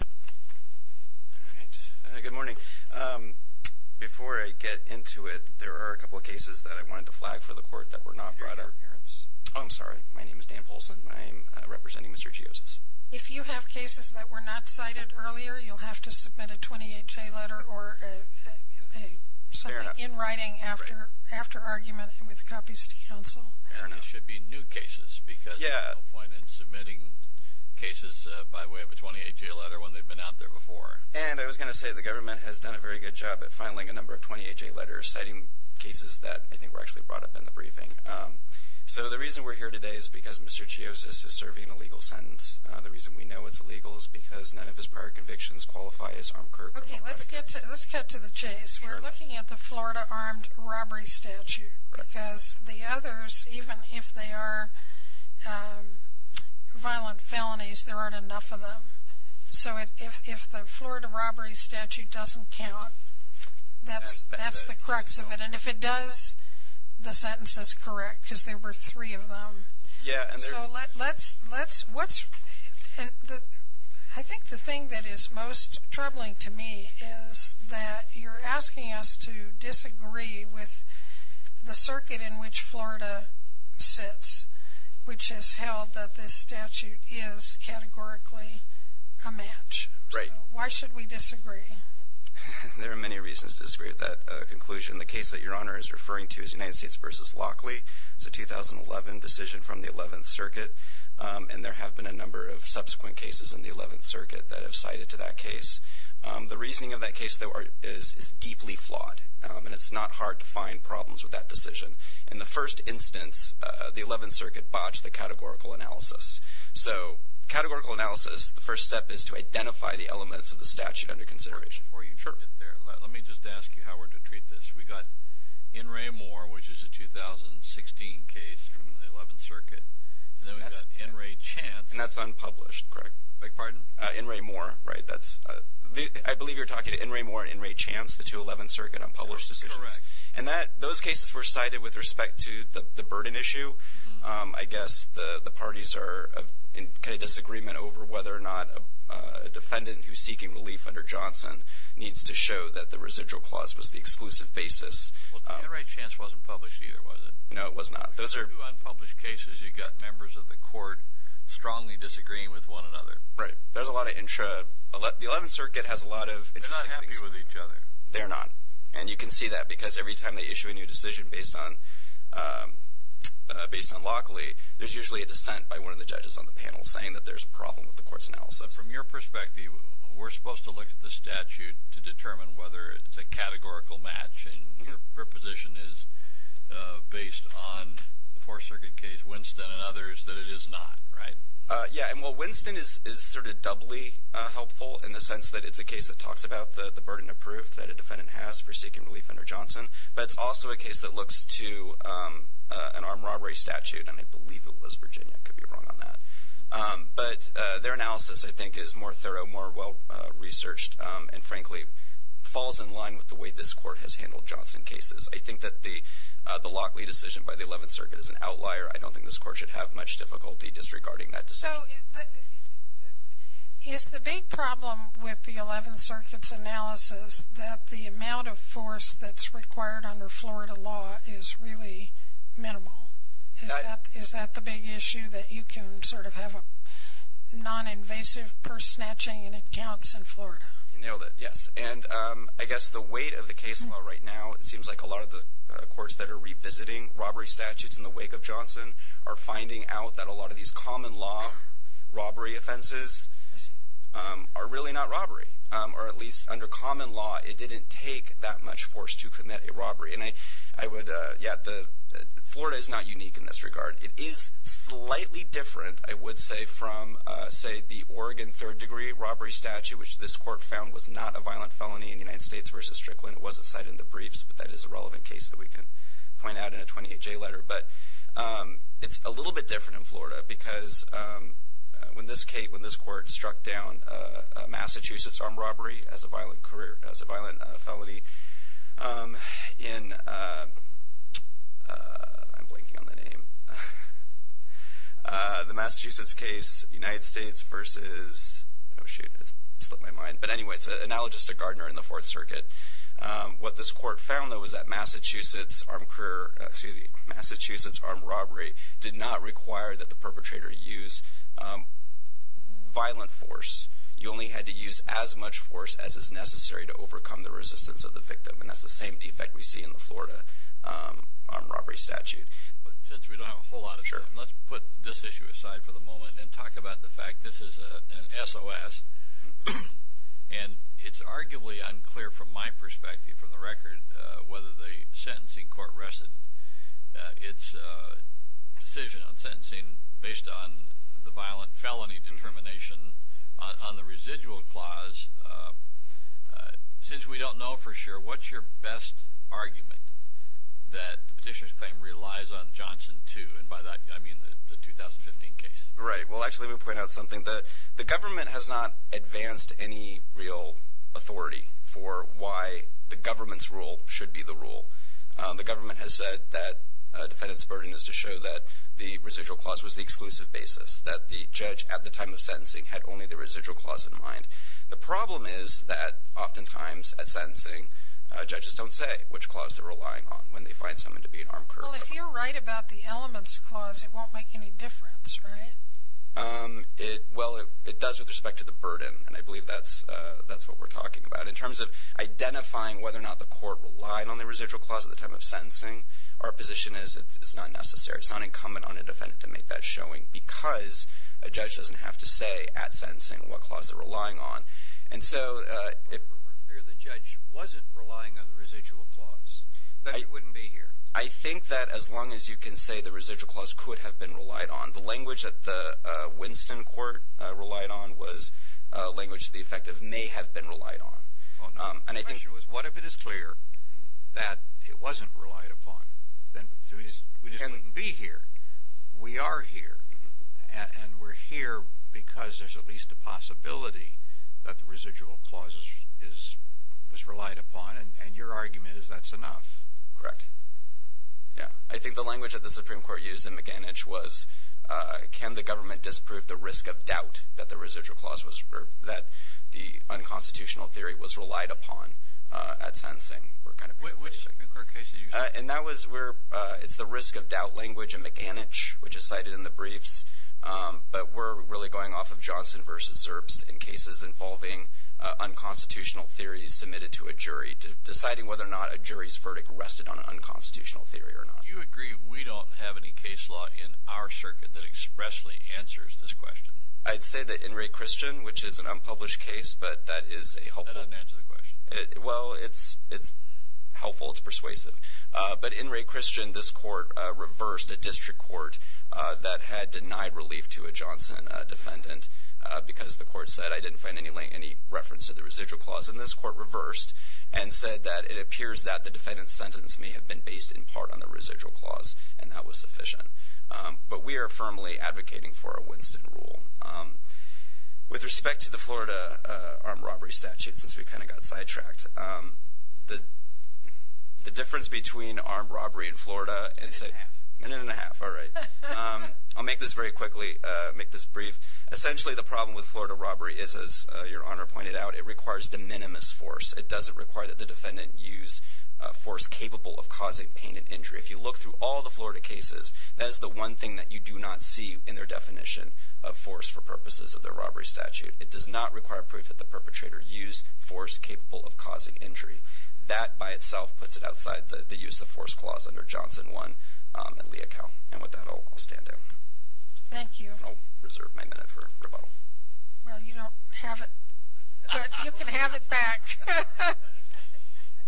All right. Good morning. Before I get into it, there are a couple of cases that I wanted to flag for the court that were not brought up. Oh, I'm sorry. My name is Dan Polson. I'm representing Mr. Geozos. If you have cases that were not cited earlier, you'll have to submit a 28-J letter or something in writing after argument with copies to counsel. And they should be new cases because there's no point in submitting cases by way of a 28-J letter when they've been out there before. And I was going to say the government has done a very good job at filing a number of 28-J letters, citing cases that I think were actually brought up in the briefing. So the reason we're here today is because Mr. Geozos is serving a legal sentence. The reason we know it's illegal is because none of his prior convictions qualify as armed crew. Okay. Let's cut to the chase. We're looking at the Florida armed robbery statute because the others, even if they are violent felonies, there aren't enough of them. So if the Florida robbery statute doesn't count, that's the crux of it. And if it does, the sentence is correct because there were three of them. I think the thing that is most troubling to me is that you're asking us to disagree with the circuit in which Florida sits, which has held that this statute is categorically a match. So why should we disagree? There are many reasons to disagree with that conclusion. The case that Your Honor is referring to is United States v. Lockley. It's a 2011 decision from the 11th Circuit, and there have been a number of subsequent cases in the 11th Circuit that have cited to that case. The reasoning of that case, though, is deeply flawed, and it's not hard to find problems with that decision. In the first instance, the 11th Circuit botched the categorical analysis. So categorical analysis, the first step is to identify the elements of the statute under consideration. Before you get there, let me just ask you how we're to treat this. We've got In re Mor, which is a 2016 case from the 11th Circuit, and then we've got In re Chance. And that's unpublished, correct? Beg your pardon? In re Mor, right? I believe you're talking to In re Mor and In re Chance, the two 11th Circuit unpublished decisions. Correct. And those cases were cited with respect to the burden issue. I guess the parties are in kind of disagreement over whether or not a defendant who's seeking relief under Johnson needs to show that the residual clause was the exclusive basis. Well, In re Chance wasn't published either, was it? No, it was not. Those are two unpublished cases. You've got members of the court strongly disagreeing with one another. Right. There's a lot of intra. The 11th Circuit has a lot of interesting things. They're not happy with each other. They're not. And you can see that because every time they issue a new decision based on Lockley, there's usually a dissent by one of the judges on the panel saying that there's a problem with the court's analysis. From your perspective, we're supposed to look at the statute to determine whether it's a categorical match and your position is based on the Fourth Circuit case, Winston, and others, that it is not, right? Yeah. And, well, Winston is sort of doubly helpful in the sense that it's a case that talks about the burden of proof that a defendant has for seeking relief under Johnson. But it's also a case that looks to an armed robbery statute. And I believe it was Virginia. I could be wrong on that. But their analysis, I think, is more thorough, more well-researched, and, frankly, falls in line with the way this court has handled Johnson cases. I think that the Lockley decision by the 11th Circuit is an outlier. I don't think this court should have much difficulty disregarding that decision. So is the big problem with the 11th Circuit's analysis that the amount of force that's required under Florida law is really minimal? Is that the big issue, that you can sort of have a non-invasive purse-snatching and it counts in Florida? You nailed it, yes. And I guess the weight of the case law right now, it seems like a lot of the courts that are revisiting robbery statutes in the wake of Johnson are finding out that a lot of these common law robbery offenses are really not robbery. Or at least under common law, it didn't take that much force to commit a robbery. And I would – yeah, Florida is not unique in this regard. It is slightly different, I would say, from, say, the Oregon third-degree robbery statute, which this court found was not a violent felony in United States v. Strickland. It was a site in the briefs, but that is a relevant case that we can point out in a 28-J letter. But it's a little bit different in Florida because when this court struck down a Massachusetts armed robbery as a violent felony in – I'm blanking on the name – the Massachusetts case, United States v. – oh, shoot, it slipped my mind. But anyway, it's analogous to Gardner in the Fourth Circuit. What this court found, though, was that Massachusetts armed robbery did not require that the perpetrator use violent force. You only had to use as much force as is necessary to overcome the resistance of the victim. And that's the same defect we see in the Florida armed robbery statute. But since we don't have a whole lot of time, let's put this issue aside for the moment and talk about the fact this is an SOS. And it's arguably unclear from my perspective, from the record, whether the sentencing court rested its decision on sentencing based on the violent felony determination on the residual clause. Since we don't know for sure, what's your best argument that the petitioner's claim relies on Johnson 2 and by that I mean the 2015 case? Right. Well, actually, let me point out something. The government has not advanced any real authority for why the government's rule should be the rule. The government has said that a defendant's burden is to show that the residual clause was the exclusive basis, that the judge at the time of sentencing had only the residual clause in mind. The problem is that oftentimes at sentencing, judges don't say which clause they're relying on when they find someone to be an armed criminal. Well, if you're right about the elements clause, it won't make any difference, right? Well, it does with respect to the burden, and I believe that's what we're talking about. In terms of identifying whether or not the court relied on the residual clause at the time of sentencing, our position is it's not necessary. It's not incumbent on a defendant to make that showing because a judge doesn't have to say at sentencing what clause they're relying on. And so if the judge wasn't relying on the residual clause, then it wouldn't be here. I think that as long as you can say the residual clause could have been relied on, the language that the Winston court relied on was language to the effect of may have been relied on. The question was, what if it is clear that it wasn't relied upon? Then we just wouldn't be here. We are here, and we're here because there's at least a possibility that the residual clause was relied upon, and your argument is that's enough. Correct. Yeah. I think the language that the Supreme Court used in McAninch was can the government disprove the risk of doubt that the residual clause was that the unconstitutional theory was relied upon at sensing. Which Supreme Court case did you say? And that was where it's the risk of doubt language in McAninch, which is cited in the briefs. But we're really going off of Johnson versus Zerbst in cases involving unconstitutional theories submitted to a jury, deciding whether or not a jury's verdict rested on an unconstitutional theory or not. Do you agree we don't have any case law in our circuit that expressly answers this question? I'd say that in Ray Christian, which is an unpublished case, but that is a helpful – That doesn't answer the question. Well, it's helpful. It's persuasive. But in Ray Christian, this court reversed a district court that had denied relief to a Johnson defendant because the court said I didn't find any reference to the residual clause. And this court reversed and said that it appears that the defendant's sentence may have been based in part on the residual clause, and that was sufficient. But we are firmly advocating for a Winston rule. With respect to the Florida armed robbery statute, since we kind of got sidetracked, the difference between armed robbery in Florida and – A minute and a half. A minute and a half. All right. I'll make this very quickly, make this brief. Essentially, the problem with Florida robbery is, as Your Honor pointed out, it requires de minimis force. It doesn't require that the defendant use force capable of causing pain and injury. If you look through all the Florida cases, that is the one thing that you do not see in their definition of force for purposes of their robbery statute. It does not require proof that the perpetrator used force capable of causing injury. That by itself puts it outside the use of force clause under Johnson 1 and Leocal. And with that, I'll stand down. Thank you. I'll reserve my minute for rebuttal. Well, you don't have it, but you can have it back.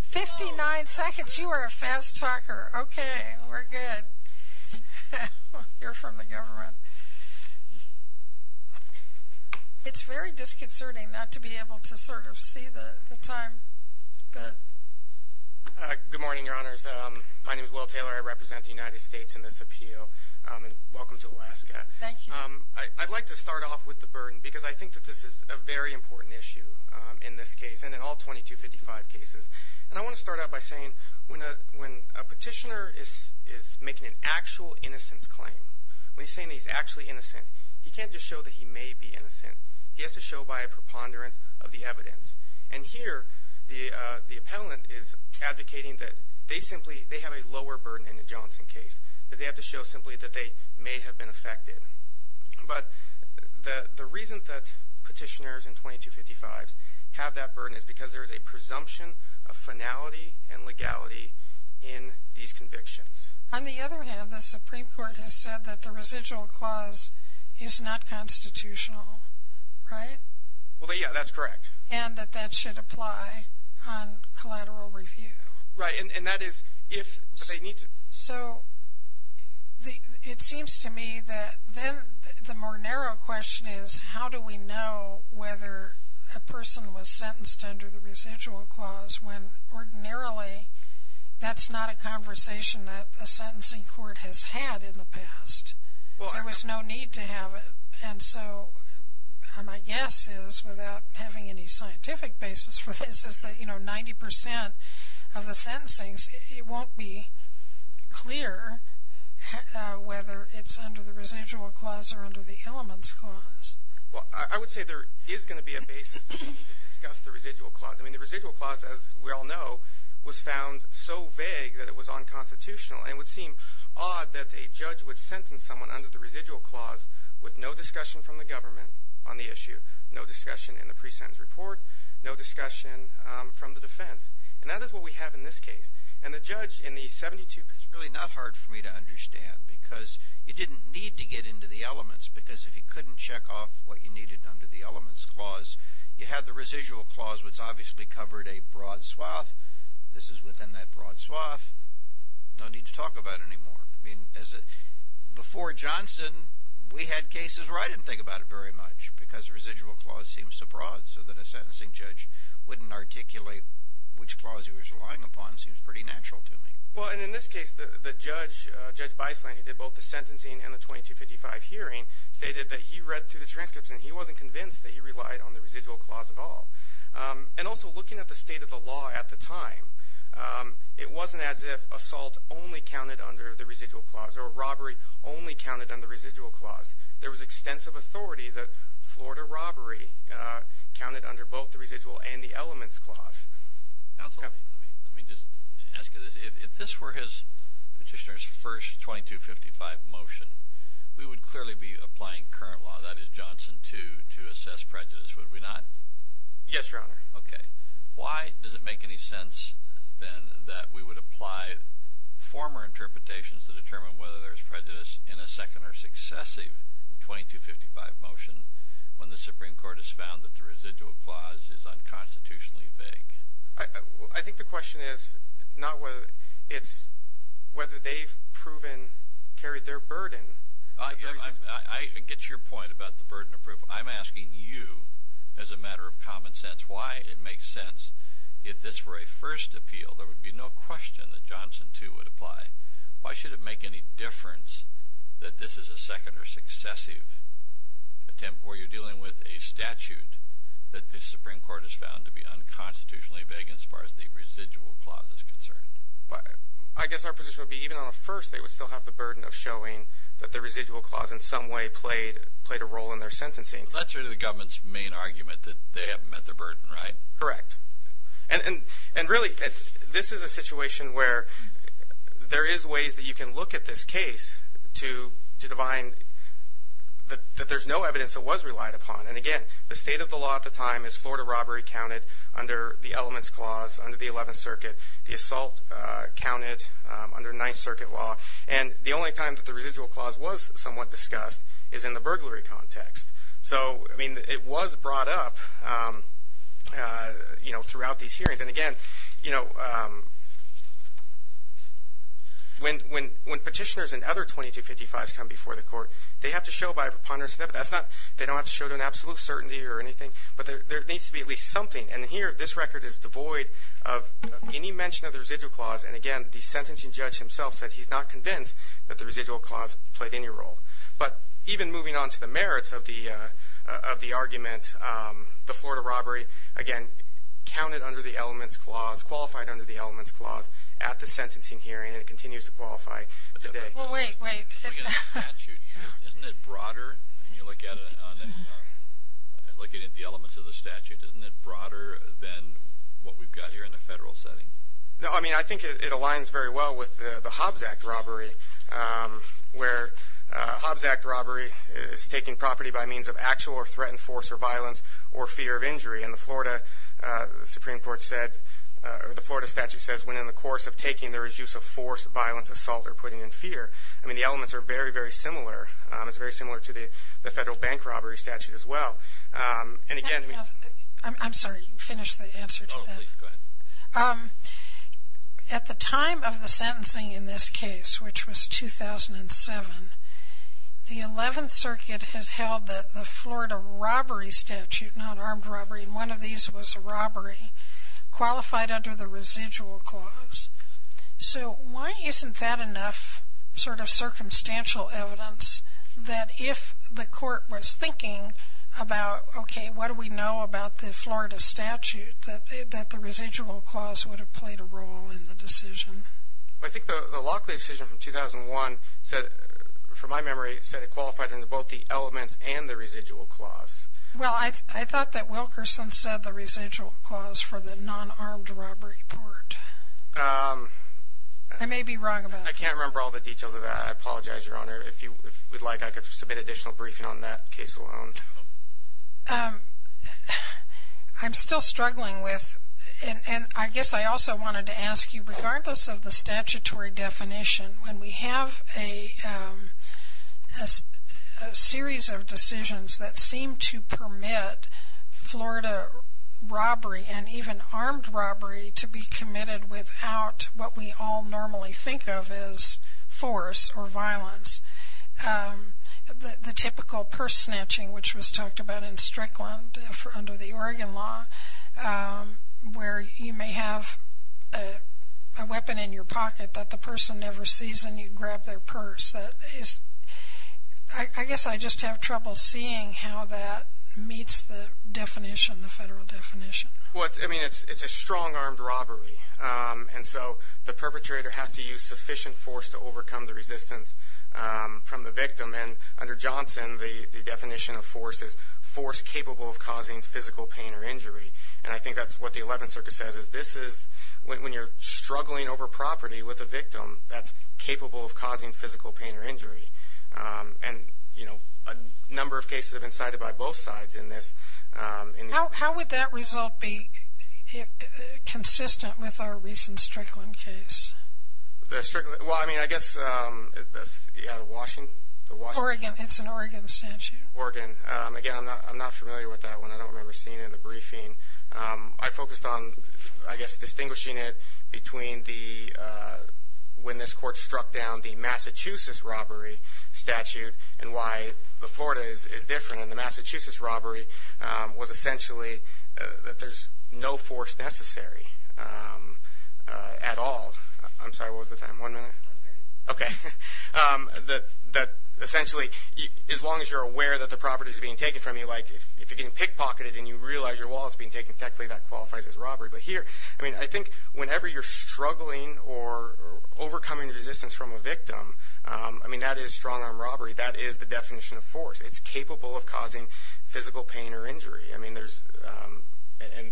Fifty-nine seconds. You are a fast talker. Okay. We're good. You're from the government. It's very disconcerting not to be able to sort of see the time. Good morning, Your Honors. My name is Will Taylor. I represent the United States in this appeal. Welcome to Alaska. Thank you. I'd like to start off with the burden because I think that this is a very important issue in this case. And in all 2255 cases. And I want to start out by saying when a petitioner is making an actual innocence claim, when he's saying that he's actually innocent, he can't just show that he may be innocent. He has to show by a preponderance of the evidence. And here, the appellant is advocating that they have a lower burden in the Johnson case, that they have to show simply that they may have been affected. But the reason that petitioners in 2255s have that burden is because there is a presumption of finality and legality in these convictions. On the other hand, the Supreme Court has said that the residual clause is not constitutional. Right? Well, yeah, that's correct. And that that should apply on collateral review. Right. And that is if they need to. So it seems to me that then the more narrow question is, how do we know whether a person was sentenced under the residual clause when ordinarily that's not a conversation that a sentencing court has had in the past? There was no need to have it. And so my guess is, without having any scientific basis for this, is that, you know, 90% of the sentencings, it won't be clear whether it's under the residual clause or under the elements clause. Well, I would say there is going to be a basis to discuss the residual clause. I mean, the residual clause, as we all know, was found so vague that it was unconstitutional. And it would seem odd that a judge would sentence someone under the residual clause with no discussion from the government on the issue, no discussion in the pre-sentence report, no discussion from the defense. And that is what we have in this case. And the judge in the 72… It's really not hard for me to understand because you didn't need to get into the elements because if you couldn't check off what you needed under the elements clause, you had the residual clause, which obviously covered a broad swath. This is within that broad swath. No need to talk about it anymore. I mean, before Johnson, we had cases where I didn't think about it very much because the residual clause seems so broad so that a sentencing judge wouldn't articulate which clause he was relying upon. It seems pretty natural to me. Well, and in this case, the judge, Judge Beisland, who did both the sentencing and the 2255 hearing, stated that he read through the transcripts and he wasn't convinced that he relied on the residual clause at all. And also, looking at the state of the law at the time, it wasn't as if assault only counted under the residual clause or robbery only counted under the residual clause. There was extensive authority that Florida robbery counted under both the residual and the elements clause. Counsel, let me just ask you this. If this were his petitioner's first 2255 motion, we would clearly be applying current law, that is, Johnson, to assess prejudice, would we not? Yes, Your Honor. Okay. Why does it make any sense then that we would apply former interpretations to determine whether there's prejudice in a second or successive 2255 motion when the Supreme Court has found that the residual clause is unconstitutionally vague? I think the question is not whether it's whether they've proven carried their burden. I get your point about the burden of proof. I'm asking you, as a matter of common sense, why it makes sense. If this were a first appeal, there would be no question that Johnson, too, would apply. Why should it make any difference that this is a second or successive attempt where you're dealing with a statute that the Supreme Court has found to be unconstitutionally vague as far as the residual clause is concerned? I guess our position would be even on a first, they would still have the burden of showing that the residual clause in some way played a role in their sentencing. That's really the government's main argument, that they haven't met their burden, right? Correct. Really, this is a situation where there is ways that you can look at this case to define that there's no evidence that was relied upon. Again, the state of the law at the time is Florida robbery counted under the Elements Clause, under the Eleventh Circuit, the assault counted under Ninth Circuit law. The only time that the residual clause was somewhat discussed is in the burglary context. It was brought up throughout these hearings. Again, when petitioners and other 2255s come before the court, they have to show by a preponderance of evidence. They don't have to show it in absolute certainty or anything, but there needs to be at least something. Here, this record is devoid of any mention of the residual clause. Again, the sentencing judge himself said he's not convinced that the residual clause played any role. But even moving on to the merits of the argument, the Florida robbery, again, counted under the Elements Clause, qualified under the Elements Clause at the sentencing hearing, and it continues to qualify today. Wait, wait. Isn't it broader when you look at it, looking at the elements of the statute, isn't it broader than what we've got here in the federal setting? No, I mean, I think it aligns very well with the Hobbs Act robbery, where a Hobbs Act robbery is taking property by means of actual or threatened force or violence or fear of injury. And the Florida Supreme Court said, or the Florida statute says, when in the course of taking, there is use of force, violence, assault, or putting in fear. I mean, the elements are very, very similar. It's very similar to the federal bank robbery statute as well. And, again, I mean... I'm sorry. Finish the answer to that. Oh, please, go ahead. At the time of the sentencing in this case, which was 2007, the 11th Circuit has held that the Florida robbery statute, not armed robbery, and one of these was a robbery, qualified under the Residual Clause. So why isn't that enough sort of circumstantial evidence that if the court was thinking about, okay, what do we know about the Florida statute, that the Residual Clause would have played a role in the decision? I think the Lockley decision from 2001, from my memory, said it qualified under both the elements and the Residual Clause. Well, I thought that Wilkerson said the Residual Clause for the non-armed robbery part. I may be wrong about that. I can't remember all the details of that. I apologize, Your Honor. If you would like, I could submit additional briefing on that case alone. I'm still struggling with, and I guess I also wanted to ask you, regardless of the statutory definition, when we have a series of decisions that seem to permit Florida robbery and even armed robbery to be committed without what we all normally think of as force or violence, the typical purse snatching, which was talked about in Strickland under the Oregon law, where you may have a weapon in your pocket that the person never sees, and you grab their purse. I guess I just have trouble seeing how that meets the definition, the federal definition. Well, I mean, it's a strong armed robbery, and so the perpetrator has to use sufficient force to overcome the resistance from the victim. And under Johnson, the definition of force is force capable of causing physical pain or injury. And I think that's what the Eleventh Circuit says. That's capable of causing physical pain or injury. And, you know, a number of cases have been cited by both sides in this. How would that result be consistent with our recent Strickland case? Well, I mean, I guess Washington. Oregon. It's an Oregon statute. Oregon. Again, I'm not familiar with that one. I don't remember seeing it in the briefing. I focused on, I guess, distinguishing it between the when this court struck down the Massachusetts robbery statute and why the Florida is different. And the Massachusetts robbery was essentially that there's no force necessary at all. I'm sorry. What was the time? One minute? Okay. That essentially, as long as you're aware that the property is being taken from you, like if you're getting pickpocketed and you realize your wallet's being taken, technically that qualifies as robbery. But here, I mean, I think whenever you're struggling or overcoming resistance from a victim, I mean, that is strong-arm robbery. That is the definition of force. It's capable of causing physical pain or injury. I mean, there's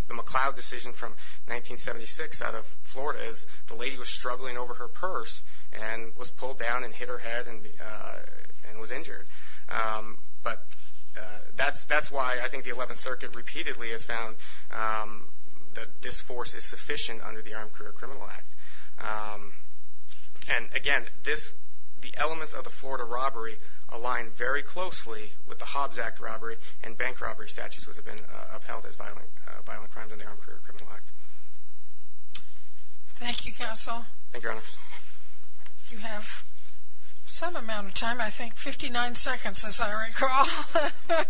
the McLeod decision from 1976 out of Florida. The lady was struggling over her purse and was pulled down and hit her head and was injured. But that's why I think the 11th Circuit repeatedly has found that this force is sufficient under the Armed Career Criminal Act. And, again, the elements of the Florida robbery align very closely with the Hobbs Act robbery and bank robbery statutes which have been upheld as violent crimes under the Armed Career Criminal Act. Thank you, Your Honor. You have some amount of time. I think 59 seconds, as I recall.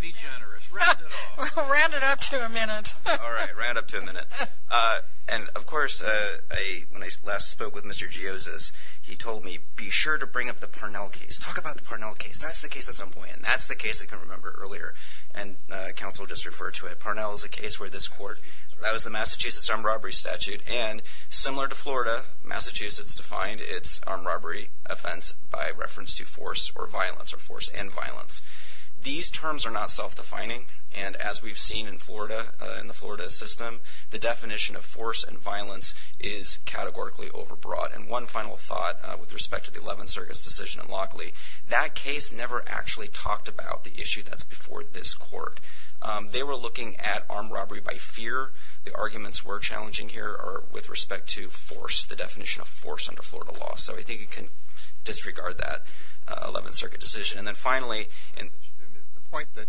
Be generous. Round it off. We'll round it up to a minute. All right. Round it up to a minute. And, of course, when I last spoke with Mr. Giosis, he told me, be sure to bring up the Parnell case. Talk about the Parnell case. That's the case at some point. That's the case I can remember earlier. And counsel just referred to it. Parnell is a case where this court, that was the Massachusetts armed robbery statute. And similar to Florida, Massachusetts defined its armed robbery offense by reference to force or violence, or force and violence. These terms are not self-defining. And as we've seen in Florida, in the Florida system, the definition of force and violence is categorically overbroad. And one final thought with respect to the 11th Circuit's decision in Lockley, that case never actually talked about the issue that's before this court. They were looking at armed robbery by fear. The arguments we're challenging here are with respect to force, the definition of force under Florida law. So I think you can disregard that 11th Circuit decision. And then finally. The point that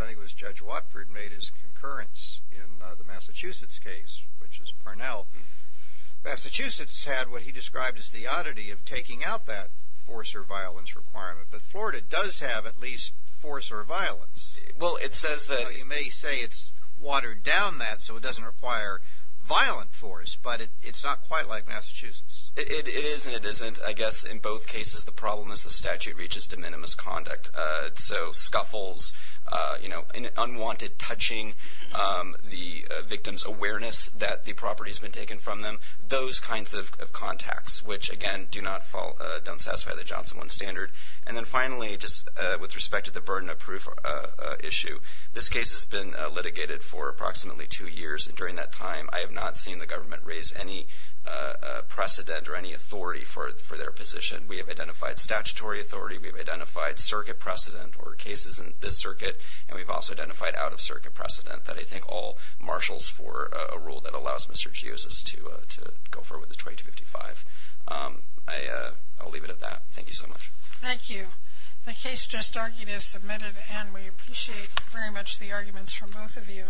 I think it was Judge Watford made is concurrence in the Massachusetts case, which is Parnell. Massachusetts had what he described as the oddity of taking out that force or violence requirement. But Florida does have at least force or violence. Well, it says that. Well, you may say it's watered down that so it doesn't require violent force. But it's not quite like Massachusetts. It is and it isn't. I guess in both cases the problem is the statute reaches de minimis conduct. So scuffles, unwanted touching, the victim's awareness that the property has been taken from them, those kinds of contacts, which, again, don't satisfy the Johnson 1 standard. And then finally, just with respect to the burden of proof issue. This case has been litigated for approximately two years, and during that time I have not seen the government raise any precedent or any authority for their position. We have identified statutory authority. We have identified circuit precedent or cases in this circuit, and we've also identified out-of-circuit precedent that I think all marshals for a rule that allows Mr. Gios's to go forward with the 2255. I'll leave it at that. Thank you so much. Thank you. The case just argued is submitted, and we appreciate very much the arguments from both of you.